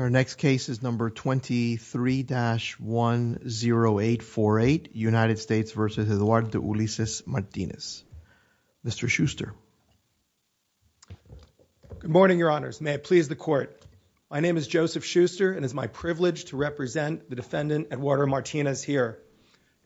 Your next case is number 23-10848 United States v. Eduardo Ulysses Martinez. Mr. Schuster. Joseph Schuster Good morning, Your Honors. May it please the Court. My name is Joseph Schuster and it is my privilege to represent the defendant, Eduardo Martinez, here.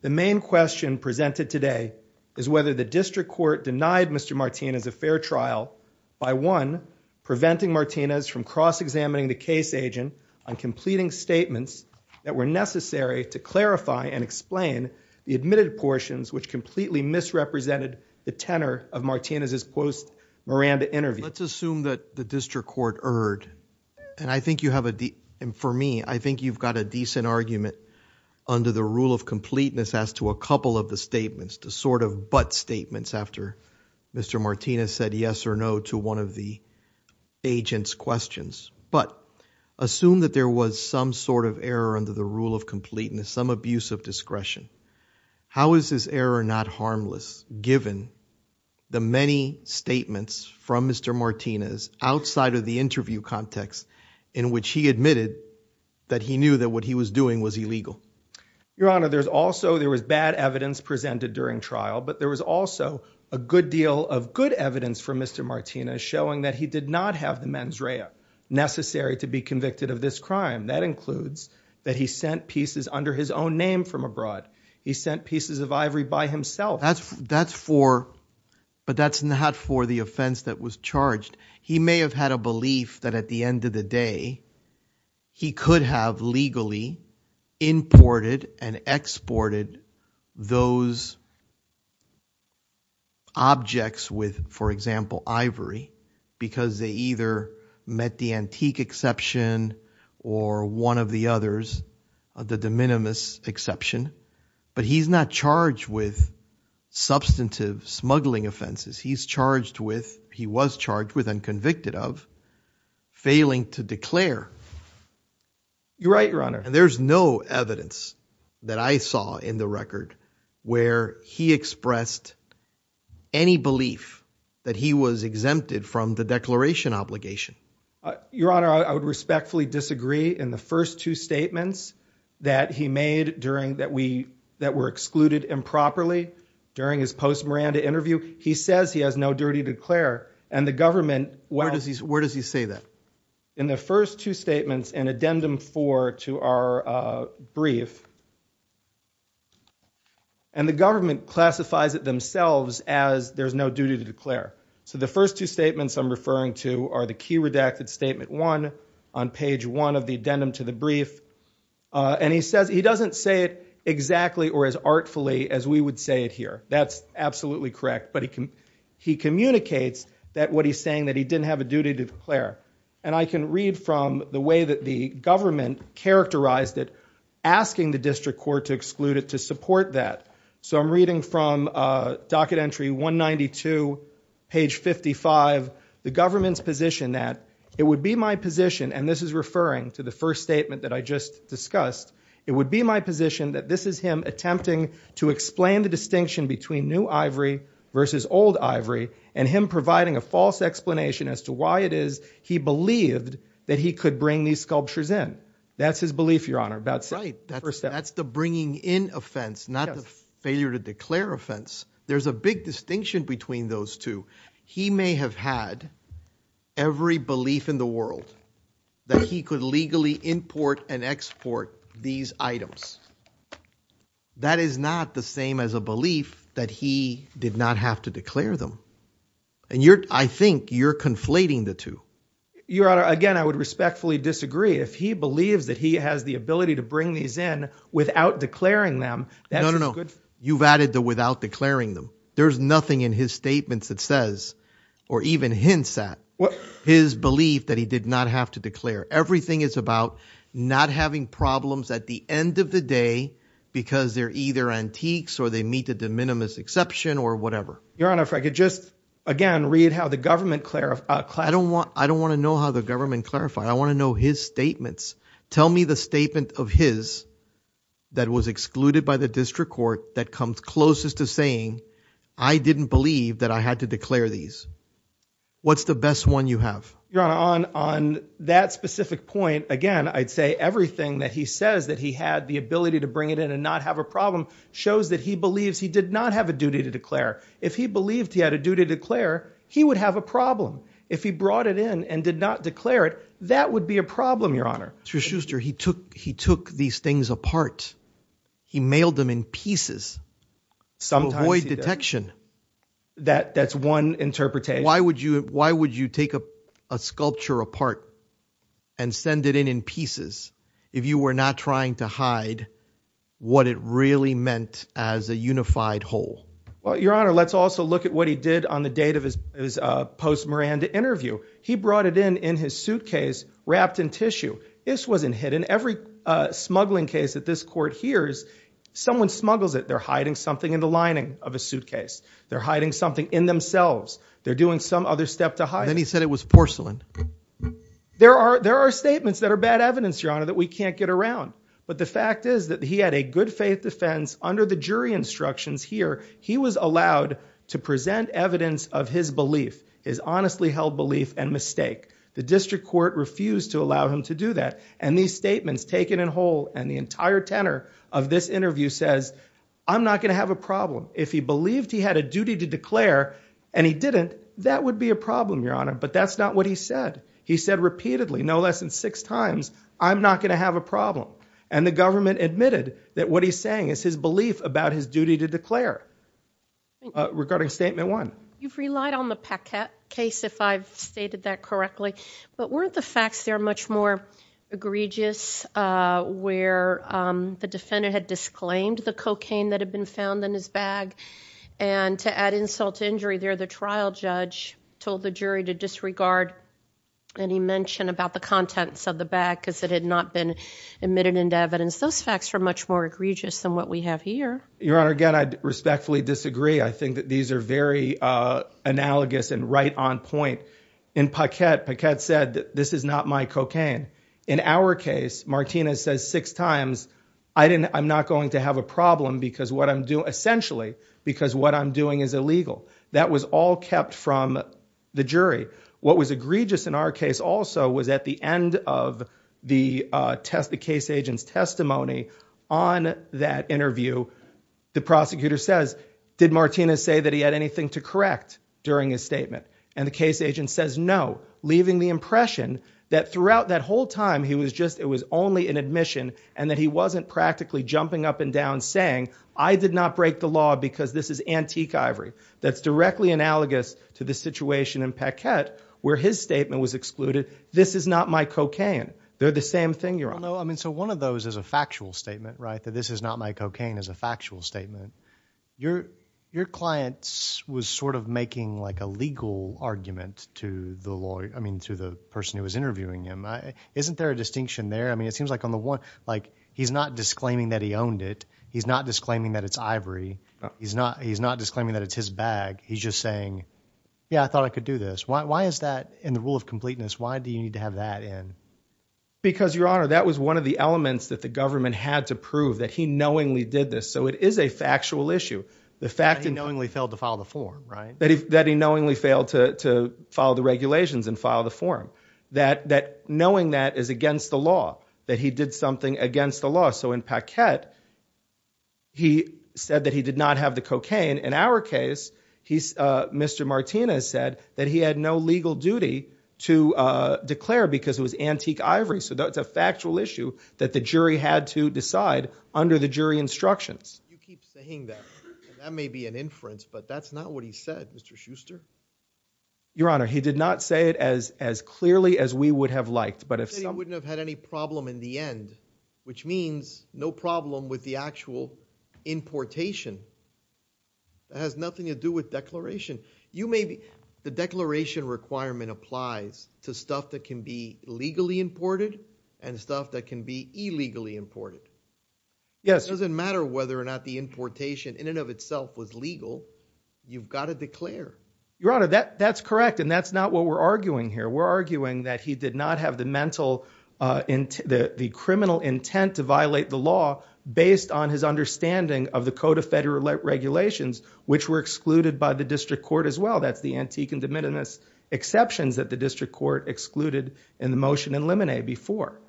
The main question presented today is whether the District Court denied Mr. Martinez a fair trial by, one, preventing Martinez from cross-examining the case agent on completing statements that were necessary to clarify and explain the admitted portions which completely misrepresented the tenor of Martinez's testimony. Let's assume that the District Court erred and I think you have a, for me, I think you've got a decent argument under the rule of completeness as to a couple of the statements, the sort of but statements after Mr. Martinez said yes or no to one of the agent's questions. But assume that there was some sort of error under the rule of completeness, some abuse of discretion. How is this error not harmless given the many statements from Mr. Martinez outside of the interview context in which he admitted that he knew that what he was doing was illegal? Your Honor, there's also, there was bad evidence presented during trial, but there was also a good deal of good evidence from Mr. Martinez showing that he did not have the mens rea necessary to be convicted of this crime. That includes that he sent pieces under his own name from abroad. He sent pieces of ivory by himself. Well, that's for, but that's not for the offense that was charged. He may have had a belief that at the end of the day he could have legally imported and exported those objects with, for example, ivory because they either met the antique exception or one of the others, the de minimis exception. But he's not charged with substantive smuggling offenses. He's charged with, he was charged with and convicted of failing to declare. You're right, Your Honor. And there's no evidence that I saw in the record where he expressed any belief that he was exempted from the declaration obligation. Your Honor, I would respectfully disagree in the first two statements that he made during, that we, that were excluded improperly during his post Miranda interview. He says he has no duty to declare and the government, where does he, where does he say that in the first two statements and addendum four to our brief and the government classifies it themselves as there's no duty to declare. So the first two statements I'm referring to are the key redacted statement one on page one of the addendum to the brief. And he says he doesn't say it exactly or as artfully as we would say it here. That's absolutely correct. But he can, he communicates that what he's saying that he didn't have a duty to declare. And I can read from the way that the government characterized it, asking the district court to exclude it, to support that. So I'm reading from a docket entry 192 page 55, the government's position that it would be my position. And this is referring to the first statement that I just discussed. It would be my position that this is him attempting to explain the distinction between new ivory versus old ivory and him providing a false explanation as to why it is he believed that he could bring these sculptures in. That's his belief. Your Honor, that's right. That's the bringing in offense, not the failure to declare offense. There's a big distinction between those two. He may have had every belief in the world that he could legally import and export these items. That is not the same as a belief that he did not have to declare them. And you're, I think you're conflating the two. Your Honor, again, I would respectfully disagree if he believes that he has the ability to bring these in without declaring them. That's good. You've added the without declaring them. There's nothing in his statements that says or even hints at his belief that he did not have to declare. Everything is about not having problems at the end of the day because they're either antiques or they meet the de minimis exception or whatever. Your Honor, if I could just again read how the government clarified. I don't want I don't want to know how the government clarified. I want to know his statements. Tell me the statement of his that was excluded by the district court that comes closest to saying I didn't believe that I had to declare these. What's the best one you have? Your Honor, on on that specific point again, I'd say everything that he says that he had the ability to bring it in and not have a problem shows that he believes he did not have a duty to declare. If he believed he had a duty to declare, he would have a problem if he brought it in and did not declare it. That would be a problem, Your Honor. Mr. Schuster, he took he took these things apart. He mailed them in pieces. Sometimes detection that that's one interpretation. Why would you why would you take a sculpture apart and send it in in pieces if you were not trying to hide what it really meant as a unified whole? Well, Your Honor, let's also look at what he did on the date of his post Miranda interview. He brought it in in his suitcase wrapped in tissue. This wasn't hidden. Every smuggling case that this court hears, someone smuggles it. They're hiding something in the lining of a suitcase. They're hiding something in themselves. They're doing some other step to hide. And he said it was porcelain. There are there are statements that are bad evidence, Your Honor, that we can't get around. But the fact is that he had a good faith defense under the jury instructions here. He was allowed to present evidence of his belief is honestly held belief and mistake. The district court refused to allow him to do that. And these statements taken in whole and the entire tenor of this interview says I'm not going to have a problem if he believed he had a duty to declare and he didn't. That would be a problem, Your Honor. But that's not what he said. He said repeatedly no less than six times. I'm not going to have a problem. And the government admitted that what he's saying is his belief about his duty to declare. Regarding statement one, you've relied on the packet case, if I've stated that correctly. But weren't the facts there much more egregious where the defendant had disclaimed the cocaine that had been found in his bag? And to add insult to injury there, the trial judge told the jury to disregard any mention about the contents of the bag because it had not been admitted into evidence. Those facts are much more egregious than what we have here. Your Honor, again, I respectfully disagree. I think that these are very analogous and right on point in pocket. This is not my cocaine. In our case, Martinez says six times I didn't. I'm not going to have a problem because what I'm doing essentially because what I'm doing is illegal. That was all kept from the jury. What was egregious in our case also was at the end of the test. The case agent's testimony on that interview, the prosecutor says, did Martinez say that he had anything to correct during his statement? And the case agent says no, leaving the impression that throughout that whole time he was just it was only an admission and that he wasn't practically jumping up and down saying I did not break the law because this is antique ivory. That's directly analogous to the situation in Paquette where his statement was excluded. This is not my cocaine. They're the same thing, Your Honor. He's just saying, yeah, I thought I could do this. Why is that in the rule of completeness? Why do you need to have that in? Because, Your Honor, that was one of the elements that the government had to prove that he knowingly did this. So it is a factual issue. The fact that he knowingly failed to follow the form, right? That he knowingly failed to follow the regulations and file the form, that knowing that is against the law, that he did something against the law. So in Paquette, he said that he did not have the cocaine. In our case, Mr. Martinez said that he had no legal duty to declare because it was antique ivory. So that's a factual issue that the jury had to decide under the jury instructions. You keep saying that that may be an inference, but that's not what he said, Mr. Schuster. Your Honor, he did not say it as as clearly as we would have liked, but if somebody wouldn't have had any problem in the end, which means no problem with the actual importation. It has nothing to do with declaration. The declaration requirement applies to stuff that can be legally imported and stuff that can be illegally imported. It doesn't matter whether or not the importation in and of itself was legal. You've got to declare. Your Honor, that's correct, and that's not what we're arguing here. We're arguing that he did not have the mental, the criminal intent to violate the law based on his understanding of the Code of Federal Regulations, which were excluded by the district court as well. That's the antique and de minimis exceptions that the district court excluded in the motion in Lemonet before.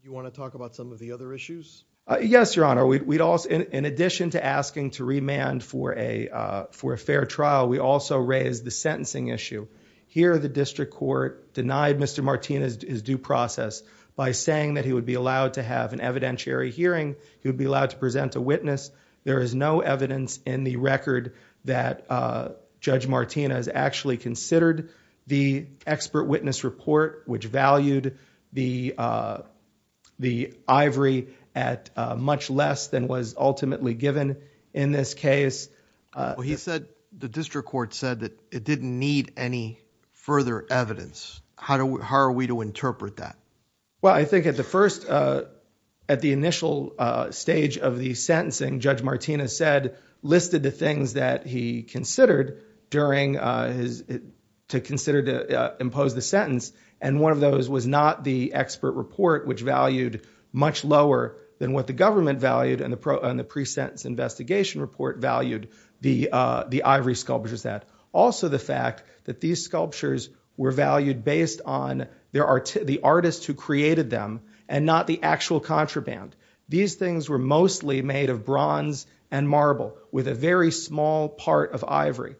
You want to talk about some of the other issues? Yes, Your Honor. We'd also, in addition to asking to remand for a for a fair trial, we also raised the sentencing issue here. denied Mr. Martinez due process by saying that he would be allowed to have an evidentiary hearing. He would be allowed to present a witness. There is no evidence in the record that Judge Martinez actually considered the expert witness report, which valued the the ivory at much less than was ultimately given in this case. He said the district court said that it didn't need any further evidence. How do we, how are we to interpret that? Well, I think at the first, at the initial stage of the sentencing, Judge Martinez said, listed the things that he considered during his, to consider to impose the sentence, and one of those was not the expert report, which valued much lower than what the government valued and the pre-sentence investigation report valued the ivory sculptures at. Also, the fact that these sculptures were valued based on the artists who created them and not the actual contraband. These things were mostly made of bronze and marble with a very small part of ivory.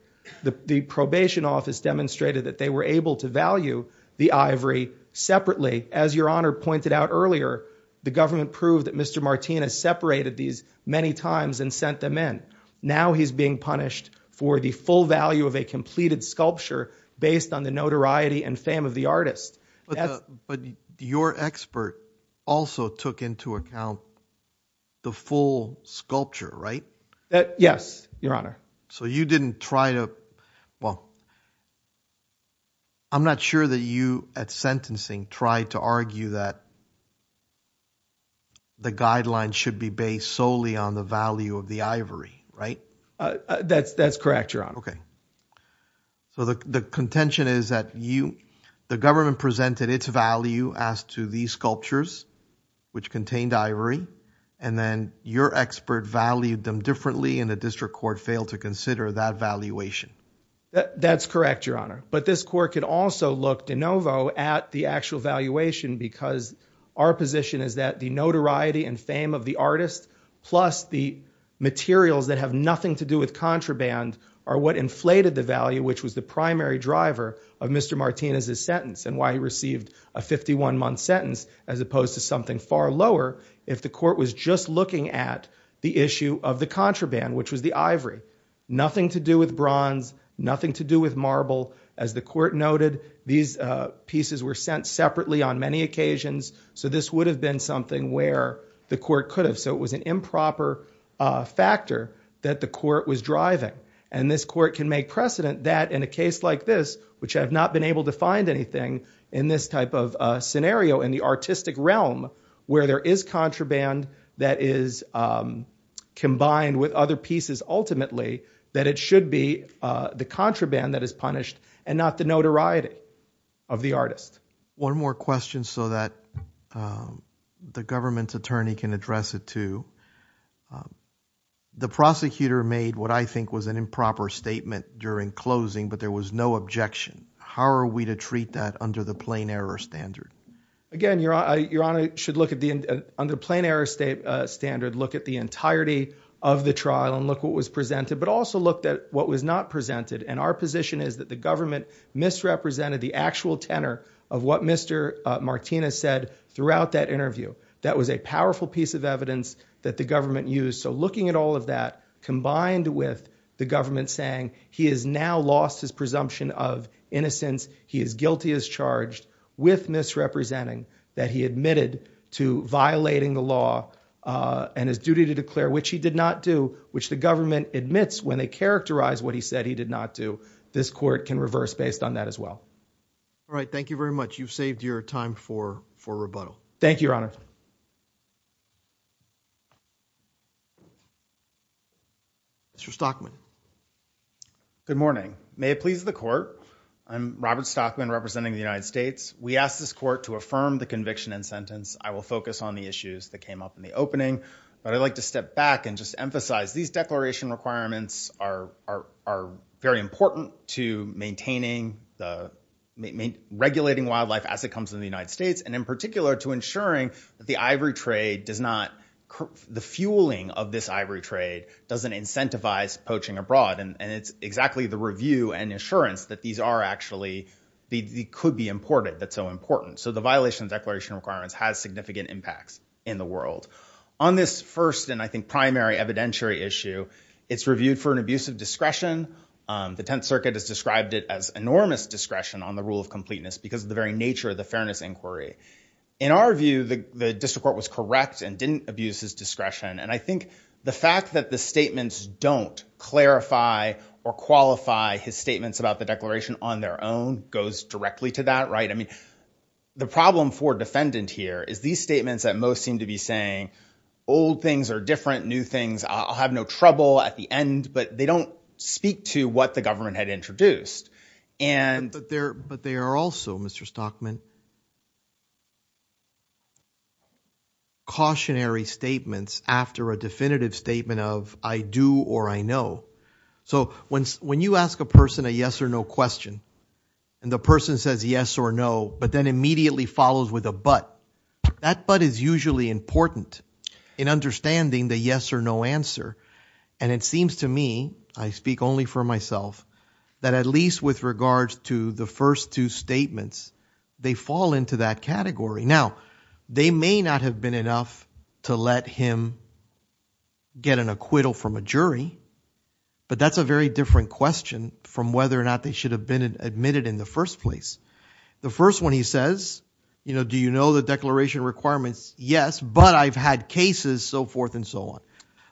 The probation office demonstrated that they were able to value the ivory separately. As Your Honor pointed out earlier, the government proved that Mr. Martinez separated these many times and sent them in. Now he's being punished for the full value of a completed sculpture based on the notoriety and fame of the artist. But your expert also took into account the full sculpture, right? Yes, Your Honor. So you didn't try to, well, I'm not sure that you at sentencing tried to argue that the guidelines should be based solely on the value of the ivory, right? That's correct, Your Honor. Okay. So the contention is that you, the government presented its value as to these sculptures, which contained ivory, and then your expert valued them differently and the district court failed to consider that valuation. That's correct, Your Honor. But this court could also look de novo at the actual valuation because our position is that the notoriety and fame of the artist plus the materials that have nothing to do with contraband are what inflated the value, which was the primary driver of Mr. Martinez's sentence and why he received a 51-month sentence as opposed to something far lower if the court was just looking at the issue of the contraband, which was the ivory. Nothing to do with bronze, nothing to do with marble. As the court noted, these pieces were sent separately on many occasions, so this would have been something where the court could have, so it was an improper factor that the court was driving. And this court can make precedent that in a case like this, which I've not been able to find anything in this type of scenario in the artistic realm where there is contraband that is combined with other pieces ultimately, that it should be the contraband that is punished and not the notoriety of the artist. One more question so that the government's attorney can address it too. The prosecutor made what I think was an improper statement during closing, but there was no objection. How are we to treat that under the plain error standard? Again, Your Honor should look at the, under plain error standard, look at the entirety of the trial and look what was presented, but also looked at what was not presented. And our position is that the government misrepresented the actual tenor of what Mr. Martinez said throughout that interview. That was a powerful piece of evidence that the government used. So looking at all of that, combined with the government saying he has now lost his presumption of innocence, he is guilty as charged with misrepresenting that he admitted to violating the law and his duty to declare, which he did not do, which the government admits when they characterize what he said he did not do. This court can reverse based on that as well. All right. Thank you very much. You've saved your time for rebuttal. Thank you, Your Honor. Mr. Stockman. Good morning. May it please the court. I'm Robert Stockman representing the United States. We ask this court to affirm the conviction and sentence. I will focus on the issues that came up in the opening. But I'd like to step back and just emphasize these declaration requirements are very important to maintaining, regulating wildlife as it comes into the United States, and in particular to ensuring that the ivory trade does not, the fueling of this ivory trade doesn't incentivize poaching abroad. And it's exactly the review and assurance that these are actually, they could be imported that's so important. So the violation of declaration requirements has significant impacts in the world. On this first and I think primary evidentiary issue, it's reviewed for an abuse of discretion. The Tenth Circuit has described it as enormous discretion on the rule of completeness because of the very nature of the fairness inquiry. In our view, the district court was correct and didn't abuse his discretion. And I think the fact that the statements don't clarify or qualify his statements about the declaration on their own goes directly to that, right? I mean, the problem for defendant here is these statements that most seem to be saying old things are different, new things. I'll have no trouble at the end. But they don't speak to what the government had introduced. But there are also, Mr. Stockman, cautionary statements after a definitive statement of I do or I know. So when you ask a person a yes or no question, and the person says yes or no, but then immediately follows with a but, that but is usually important in understanding the yes or no answer. And it seems to me, I speak only for myself, that at least with regards to the first two statements, they fall into that category. Now, they may not have been enough to let him get an acquittal from a jury. But that's a very different question from whether or not they should have been admitted in the first place. The first one he says, you know, do you know the declaration requirements? Yes, but I've had cases, so forth and so on.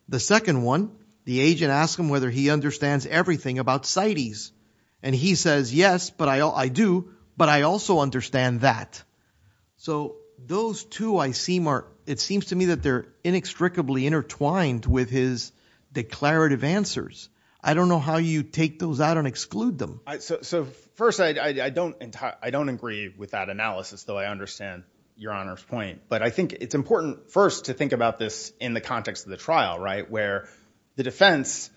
The second one, the agent asked him whether he understands everything about CITES. And he says, yes, but I do, but I also understand that. So those two, it seems to me that they're inextricably intertwined with his declarative answers. I don't know how you take those out and exclude them. So first, I don't agree with that analysis, though I understand Your Honor's point. But I think it's important first to think about this in the context of the trial, right, where the defense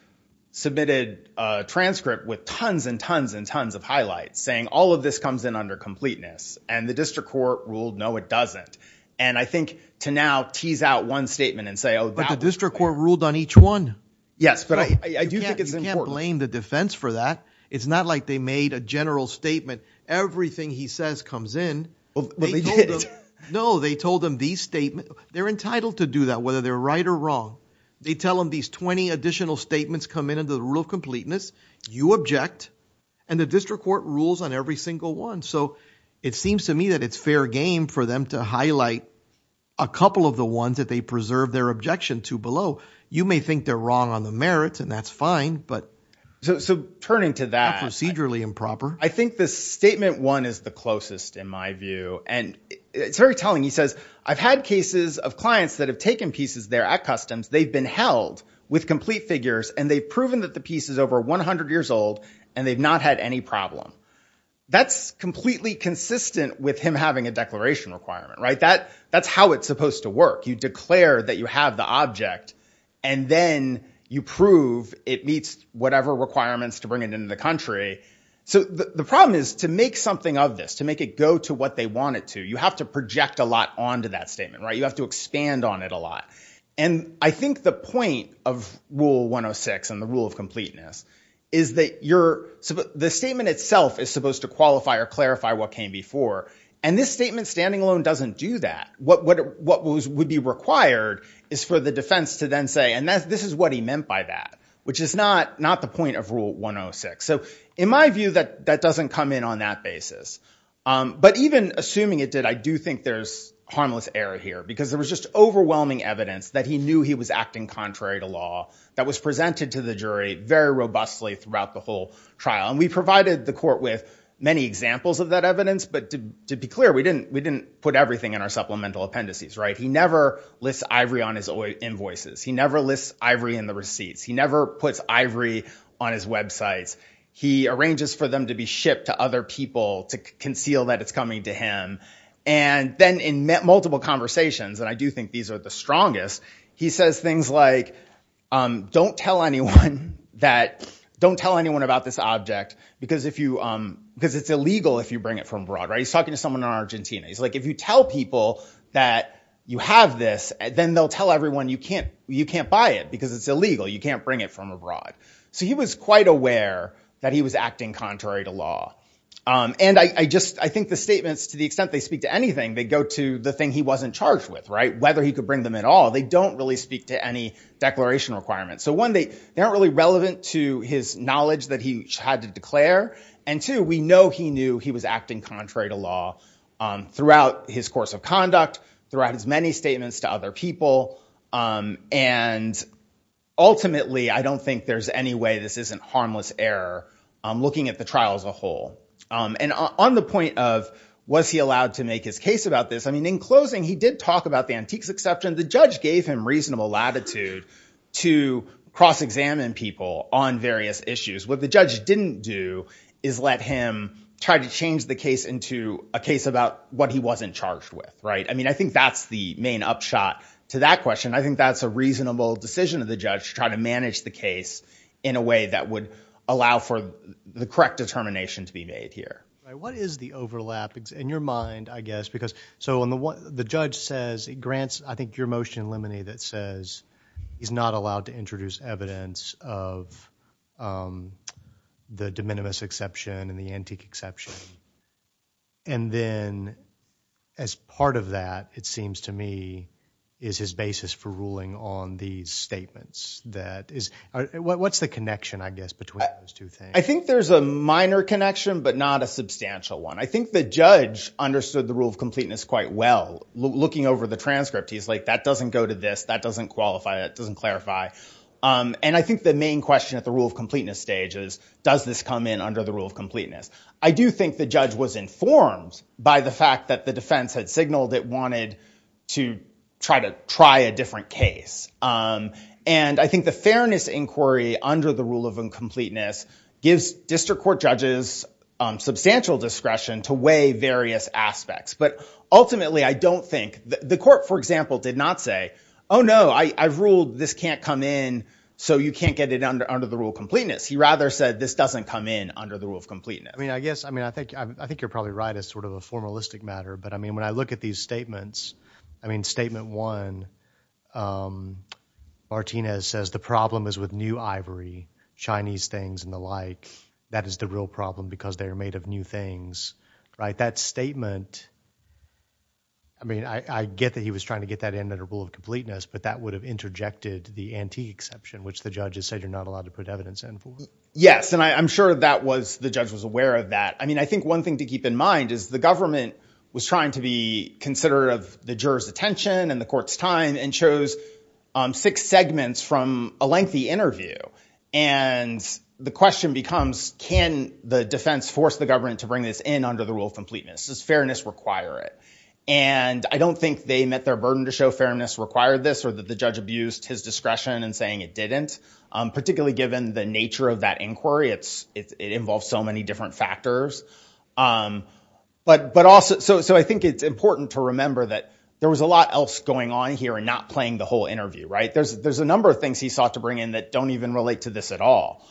submitted a transcript with tons and tons and tons of highlights saying all of this comes in under completeness. And the district court ruled, no, it doesn't. And I think to now tease out one statement and say, oh, wow. But the district court ruled on each one. Yes, but I do think it's important. You can't blame the defense for that. It's not like they made a general statement. Everything he says comes in. But they did. No, they told him these statements. They're entitled to do that, whether they're right or wrong. They tell him these 20 additional statements come in under the rule of completeness. You object. And the district court rules on every single one. So it seems to me that it's fair game for them to highlight a couple of the ones that they preserve their objection to below. You may think they're wrong on the merits, and that's fine. But so turning to that procedurally improper, I think this statement one is the closest in my view. And it's very telling. He says, I've had cases of clients that have taken pieces there at customs. They've been held with complete figures, and they've proven that the piece is over 100 years old, and they've not had any problem. That's completely consistent with him having a declaration requirement. That's how it's supposed to work. You declare that you have the object, and then you prove it meets whatever requirements to bring it into the country. So the problem is to make something of this, to make it go to what they want it to, you have to project a lot onto that statement. You have to expand on it a lot. And I think the point of Rule 106 and the rule of completeness is that the statement itself is supposed to qualify or clarify what came before. And this statement standing alone doesn't do that. What would be required is for the defense to then say, and this is what he meant by that, which is not the point of Rule 106. So in my view, that doesn't come in on that basis. But even assuming it did, I do think there's harmless error here. Because there was just overwhelming evidence that he knew he was acting contrary to law that was presented to the jury very robustly throughout the whole trial. And we provided the court with many examples of that evidence, but to be clear, we didn't put everything in our supplemental appendices. He never lists ivory on his invoices. He never lists ivory in the receipts. He never puts ivory on his websites. He arranges for them to be shipped to other people to conceal that it's coming to him. And then in multiple conversations, and I do think these are the strongest, he says things like, don't tell anyone about this object because it's illegal if you bring it from abroad. He's talking to someone in Argentina. He's like, if you tell people that you have this, then they'll tell everyone you can't buy it because it's illegal. You can't bring it from abroad. So he was quite aware that he was acting contrary to law. And I think the statements, to the extent they speak to anything, they go to the thing he wasn't charged with, whether he could bring them at all. They don't really speak to any declaration requirements. So one, they aren't really relevant to his knowledge that he had to declare. And two, we know he knew he was acting contrary to law throughout his course of conduct, throughout his many statements to other people. And ultimately, I don't think there's any way this isn't harmless error looking at the trial as a whole. And on the point of was he allowed to make his case about this, I mean, in closing, he did talk about the antiques exception. The judge gave him reasonable latitude to cross-examine people on various issues. What the judge didn't do is let him try to change the case into a case about what he wasn't charged with. I mean, I think that's the main upshot to that question. I think that's a reasonable decision of the judge to try to manage the case in a way that would allow for the correct determination to be made here. What is the overlap in your mind, I guess? Because so the judge says he grants, I think, your motion, Lemony, that says he's not allowed to introduce evidence of the de minimis exception and the antique exception. And then as part of that, it seems to me, is his basis for ruling on these statements. What's the connection, I guess, between those two things? I think there's a minor connection, but not a substantial one. I think the judge understood the rule of completeness quite well. Looking over the transcript, he's like, that doesn't go to this. That doesn't qualify. That doesn't clarify. And I think the main question at the rule of completeness stage is, does this come in under the rule of completeness? I do think the judge was informed by the fact that the defense had signaled it wanted to try to try a different case. And I think the fairness inquiry under the rule of incompleteness gives district court judges substantial discretion to weigh various aspects. But ultimately, I don't think the court, for example, did not say, oh, no, I ruled this can't come in. So you can't get it under the rule of completeness. He rather said this doesn't come in under the rule of completeness. I mean, I guess I mean, I think I think you're probably right. It's sort of a formalistic matter. But I mean, when I look at these statements, I mean, statement one, Martinez says the problem is with new ivory, Chinese things and the like. That is the real problem because they are made of new things. Right. That statement. I mean, I get that he was trying to get that in that rule of completeness. But that would have interjected the ante exception, which the judges said you're not allowed to put evidence in for. Yes. And I'm sure that was the judge was aware of that. I mean, I think one thing to keep in mind is the government was trying to be considerate of the juror's attention and the court's time and chose six segments from a lengthy interview. And the question becomes, can the defense force the government to bring this in under the rule of completeness? Does fairness require it? And I don't think they met their burden to show fairness required this or that the judge abused his discretion in saying it didn't. Particularly given the nature of that inquiry, it's it involves so many different factors. But but also. So I think it's important to remember that there was a lot else going on here and not playing the whole interview. Right. There's there's a number of things he sought to bring in that don't even relate to this at all.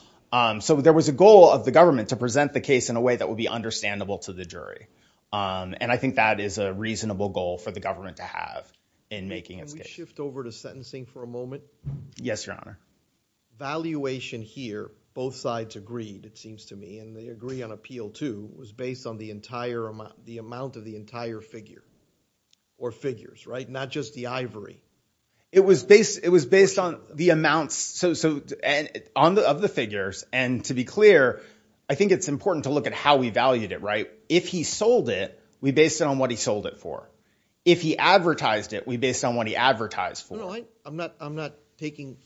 So there was a goal of the government to present the case in a way that would be understandable to the jury. And I think that is a reasonable goal for the government to have in making it shift over to sentencing for a moment. Yes, your honor. Valuation here. Both sides agreed, it seems to me. And they agree on appeal, too, was based on the entire amount, the amount of the entire figure or figures. Right. Not just the ivory. It was based it was based on the amounts. So and on the of the figures. And to be clear, I think it's important to look at how we valued it. Right. If he sold it, we based it on what he sold it for. If he advertised it, we based on what he advertised for. I'm not I'm not taking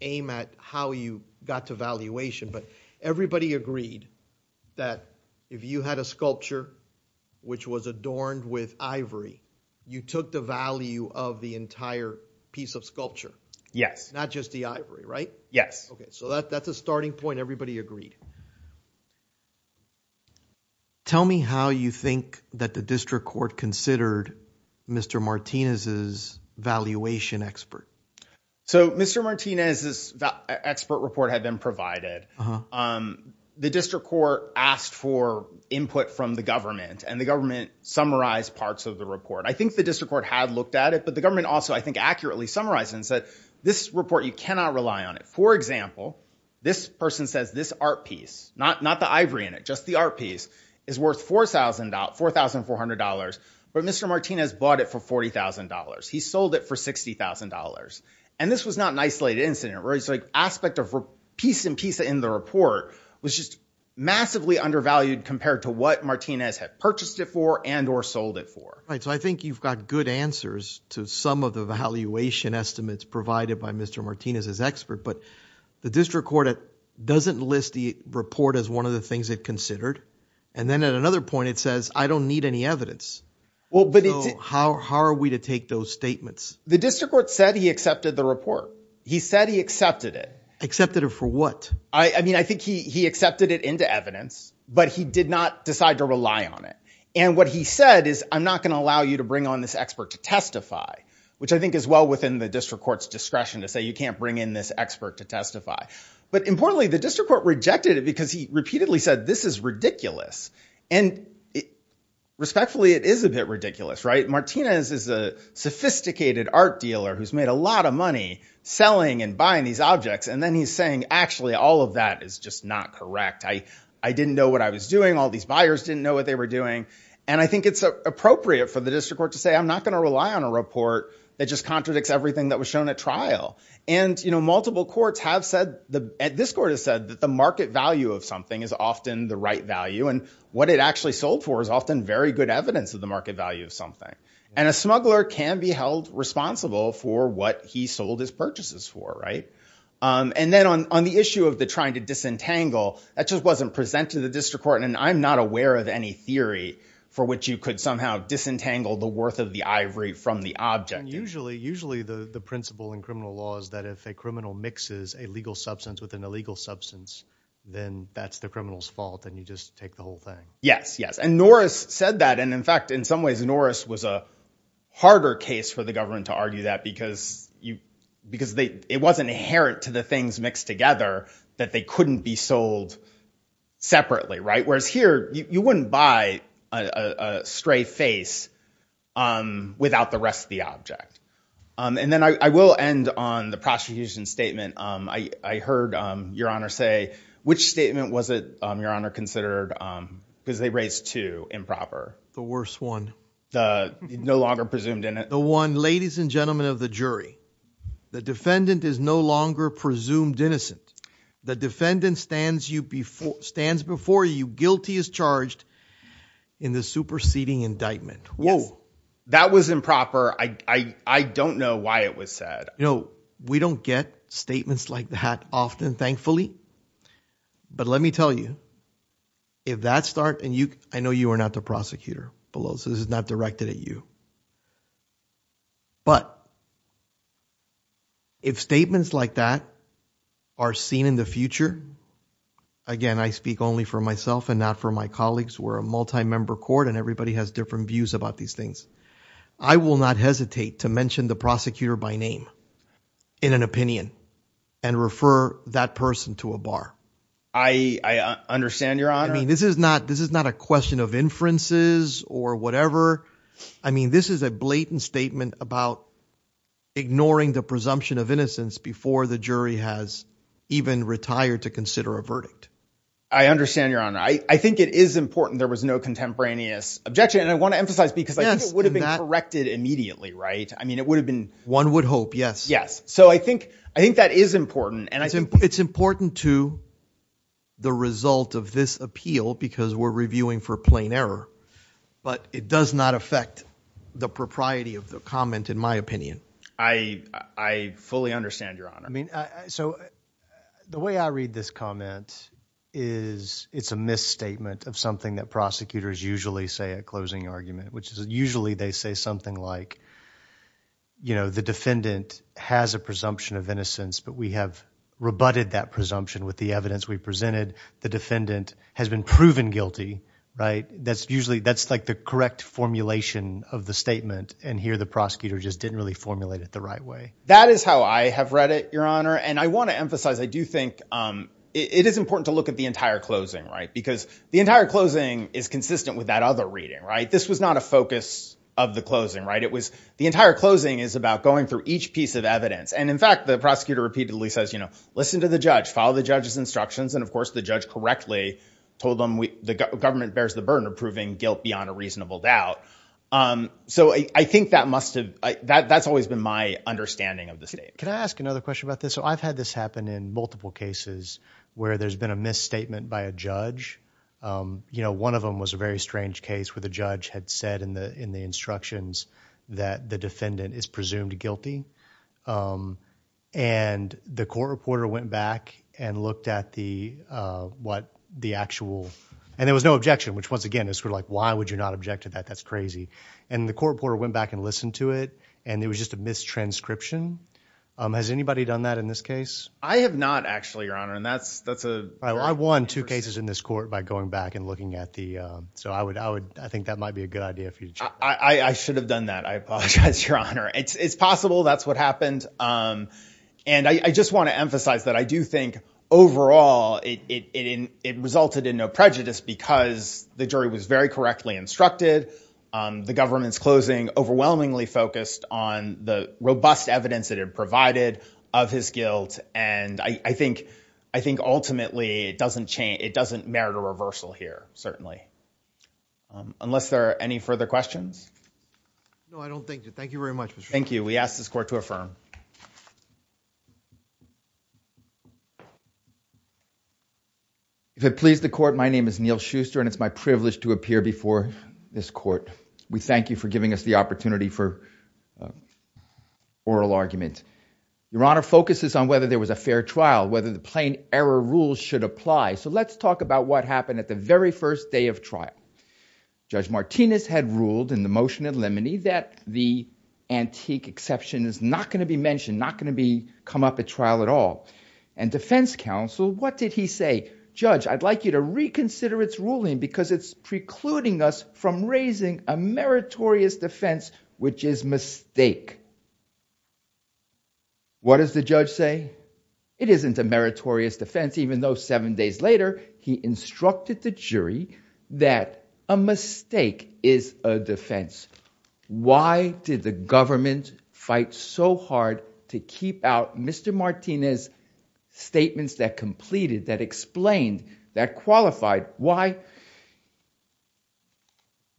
aim at how you got to valuation. But everybody agreed that if you had a sculpture which was adorned with ivory, you took the value of the entire piece of sculpture. Yes. Not just the ivory. Right. Yes. So that that's a starting point. Everybody agreed. Tell me how you think that the district court considered Mr. Martinez's valuation expert. So Mr. Martinez's expert report had been provided. The district court asked for input from the government and the government summarized parts of the report. I think the district court had looked at it, but the government also, I think, accurately summarized and said this report, you cannot rely on it. For example, this person says this art piece, not not the ivory in it, just the art piece is worth four thousand four thousand four hundred dollars. But Mr. Martinez bought it for forty thousand dollars. He sold it for sixty thousand dollars. And this was not an isolated incident. It's like aspect of piece and piece in the report was just massively undervalued compared to what Martinez had purchased it for and or sold it for. Right. So I think you've got good answers to some of the valuation estimates provided by Mr. Martinez's expert. But the district court doesn't list the report as one of the things it considered. And then at another point, it says I don't need any evidence. Well, but how are we to take those statements? The district court said he accepted the report. He said he accepted it. Accepted it for what? I mean, I think he he accepted it into evidence, but he did not decide to rely on it. And what he said is I'm not going to allow you to bring on this expert to testify, which I think is well within the district court's discretion to say you can't bring in this expert to testify. But importantly, the district court rejected it because he repeatedly said this is ridiculous. And respectfully, it is a bit ridiculous. Right. Martinez is a sophisticated art dealer who's made a lot of money selling and buying these objects. And then he's saying, actually, all of that is just not correct. I didn't know what I was doing. All these buyers didn't know what they were doing. And I think it's appropriate for the district court to say I'm not going to rely on a report that just contradicts everything that was shown at trial. And, you know, multiple courts have said that this court has said that the market value of something is often the right value. And what it actually sold for is often very good evidence of the market value of something. And a smuggler can be held responsible for what he sold his purchases for. Right. And then on the issue of the trying to disentangle, that just wasn't presented to the district court. And I'm not aware of any theory for which you could somehow disentangle the worth of the ivory from the object. And usually usually the principle in criminal law is that if a criminal mixes a legal substance with an illegal substance, then that's the criminal's fault. And you just take the whole thing. Yes. Yes. And Norris said that. And in fact, in some ways, Norris was a harder case for the government to argue that because you because it wasn't inherent to the things mixed together that they couldn't be sold separately. Right. Whereas here you wouldn't buy a stray face without the rest of the object. And then I will end on the prosecution statement. I heard your honor say which statement was it your honor considered because they raised to improper. The worst one. The no longer presumed in the one. Ladies and gentlemen of the jury, the defendant is no longer presumed innocent. The defendant stands you before stands before you guilty as charged in the superseding indictment. Well, that was improper. I don't know why it was said, you know, we don't get statements like that often, thankfully. But let me tell you. If that start and you I know you are not the prosecutor below, so this is not directed at you. But. If statements like that are seen in the future, again, I speak only for myself and not for my colleagues. We're a multi member court and everybody has different views about these things. I will not hesitate to mention the prosecutor by name in an opinion and refer that person to a bar. I understand your honor. I mean, this is not this is not a question of inferences or whatever. I mean, this is a blatant statement about ignoring the presumption of innocence before the jury has even retired to consider a verdict. I understand your honor. I think it is important. There was no contemporaneous objection. And I want to emphasize because it would have been corrected immediately. Right. I mean, it would have been one would hope. Yes. Yes. So I think I think that is important. And I think it's important to. The result of this appeal, because we're reviewing for plain error, but it does not affect the propriety of the comment, in my opinion, I, I fully understand your honor. I mean, so the way I read this comment is it's a misstatement of something that prosecutors usually say a closing argument, which is usually they say something like. You know, the defendant has a presumption of innocence, but we have rebutted that presumption with the evidence we presented, the defendant has been proven guilty. Right. That's usually that's like the correct formulation of the statement. And here the prosecutor just didn't really formulate it the right way. That is how I have read it, your honor. And I want to emphasize, I do think it is important to look at the entire closing. Right. Because the entire closing is consistent with that other reading. Right. This was not a focus of the closing. Right. It was the entire closing is about going through each piece of evidence. And in fact, the prosecutor repeatedly says, you know, listen to the judge, follow the judge's instructions. And of course, the judge correctly told them the government bears the burden of proving guilt beyond a reasonable doubt. So I think that must have that that's always been my understanding of the state. Can I ask another question about this? I've had this happen in multiple cases where there's been a misstatement by a judge. You know, one of them was a very strange case where the judge had said in the in the instructions that the defendant is presumed guilty. And the court reporter went back and looked at the what the actual. And there was no objection, which once again is sort of like, why would you not object to that? That's crazy. And the court reporter went back and listened to it. And it was just a mistranscription. Has anybody done that in this case? I have not actually, your honor. And that's that's a I won two cases in this court by going back and looking at the. So I would I would I think that might be a good idea. I should have done that. I apologize, your honor. It's possible. That's what happened. And I just want to emphasize that I do think overall it resulted in no prejudice because the jury was very correctly instructed. The government's closing overwhelmingly focused on the robust evidence that it provided of his guilt. And I think I think ultimately it doesn't change. It doesn't merit a reversal here. Certainly. Unless there are any further questions. No, I don't think. Thank you very much. Thank you. We asked this court to affirm. If it please the court, my name is Neil Schuster and it's my privilege to appear before this court. We thank you for giving us the opportunity for oral argument. Your honor focuses on whether there was a fair trial, whether the plain error rules should apply. So let's talk about what happened at the very first day of trial. Judge Martinez had ruled in the motion in limine that the antique exception is not going to be mentioned, not going to be come up at trial at all. And defense counsel, what did he say? Judge, I'd like you to reconsider its ruling because it's precluding us from raising a meritorious defense, which is mistake. What does the judge say? It isn't a meritorious defense, even though seven days later he instructed the jury that a mistake is a defense. Why did the government fight so hard to keep out Mr. Martinez statements that completed, that explained, that qualified? Why?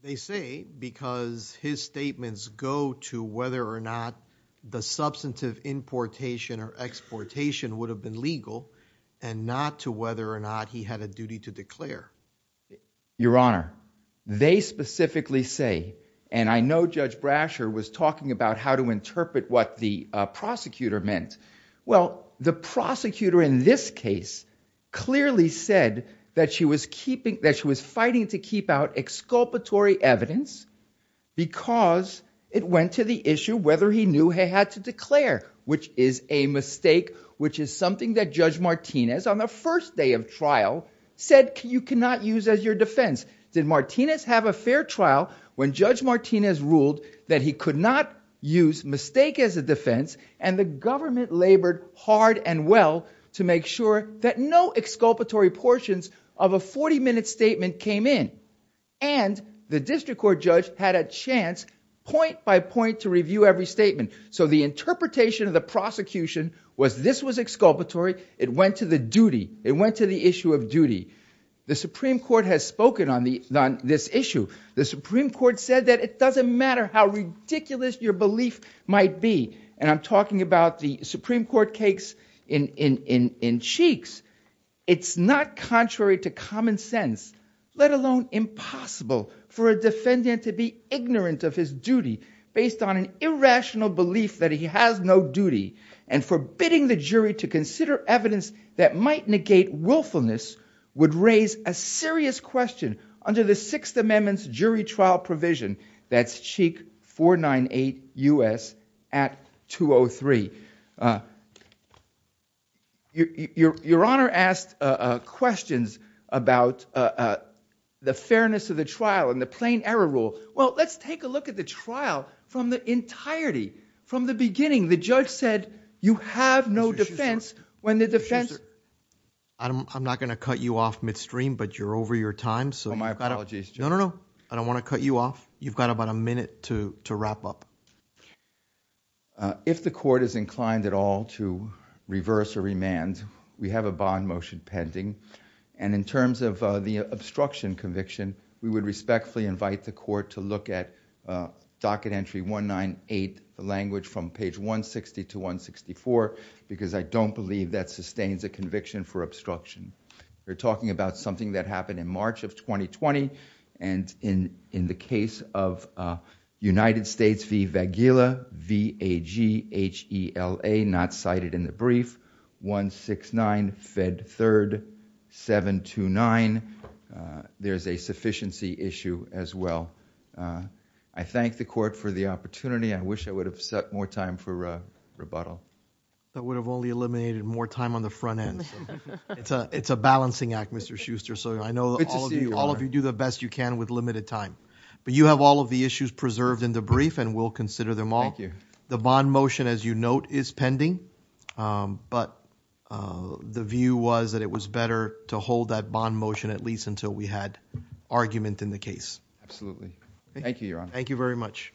They say because his statements go to whether or not the substantive importation or exportation would have been legal and not to whether or not he had a duty to declare. Your honor, they specifically say, and I know Judge Brasher was talking about how to interpret what the prosecutor meant. Well, the prosecutor in this case clearly said that she was fighting to keep out exculpatory evidence because it went to the issue whether he knew he had to declare, which is a mistake, which is something that Judge Martinez on the first day of trial said you cannot use as your defense. Did Martinez have a fair trial when Judge Martinez ruled that he could not use mistake as a defense and the government labored hard and well to make sure that no exculpatory portions of a 40 minute statement came in? And the district court judge had a chance point by point to review every statement. So the interpretation of the prosecution was this was exculpatory. It went to the duty. It went to the issue of duty. The Supreme Court has spoken on this issue. The Supreme Court said that it doesn't matter how ridiculous your belief might be. And I'm talking about the Supreme Court case in Cheeks. It's not contrary to common sense, let alone impossible for a defendant to be ignorant of his duty based on an irrational belief that he has no duty and forbidding the jury to consider evidence that might negate willfulness would raise a serious question under the Sixth Amendment's jury trial provision. That's Cheek 498 U.S. at 203. Your Honor asked questions about the fairness of the trial and the plain error rule. Well, let's take a look at the trial from the entirety, from the beginning. The judge said you have no defense when the defense. I'm not going to cut you off midstream, but you're over your time. So my apologies. No, no, no. I don't want to cut you off. You've got about a minute to wrap up. If the court is inclined at all to reverse or remand, we have a bond motion pending. And in terms of the obstruction conviction, we would respectfully invite the court to look at docket entry 198, the language from page 160 to 164, because I don't believe that sustains a conviction for obstruction. We're talking about something that happened in March of 2020. And in the case of United States v. Vagila, V-A-G-H-E-L-A, not cited in the brief, 169, Fed 3rd, 729, there's a sufficiency issue as well. I thank the court for the opportunity. I wish I would have set more time for rebuttal. That would have only eliminated more time on the front end. It's a balancing act, Mr. Schuster. So I know all of you do the best you can with limited time. But you have all of the issues preserved in the brief, and we'll consider them all. Thank you. The bond motion, as you note, is pending. But the view was that it was better to hold that bond motion at least until we had argument in the case. Absolutely. Thank you, Your Honor. Thank you very much. Thank you.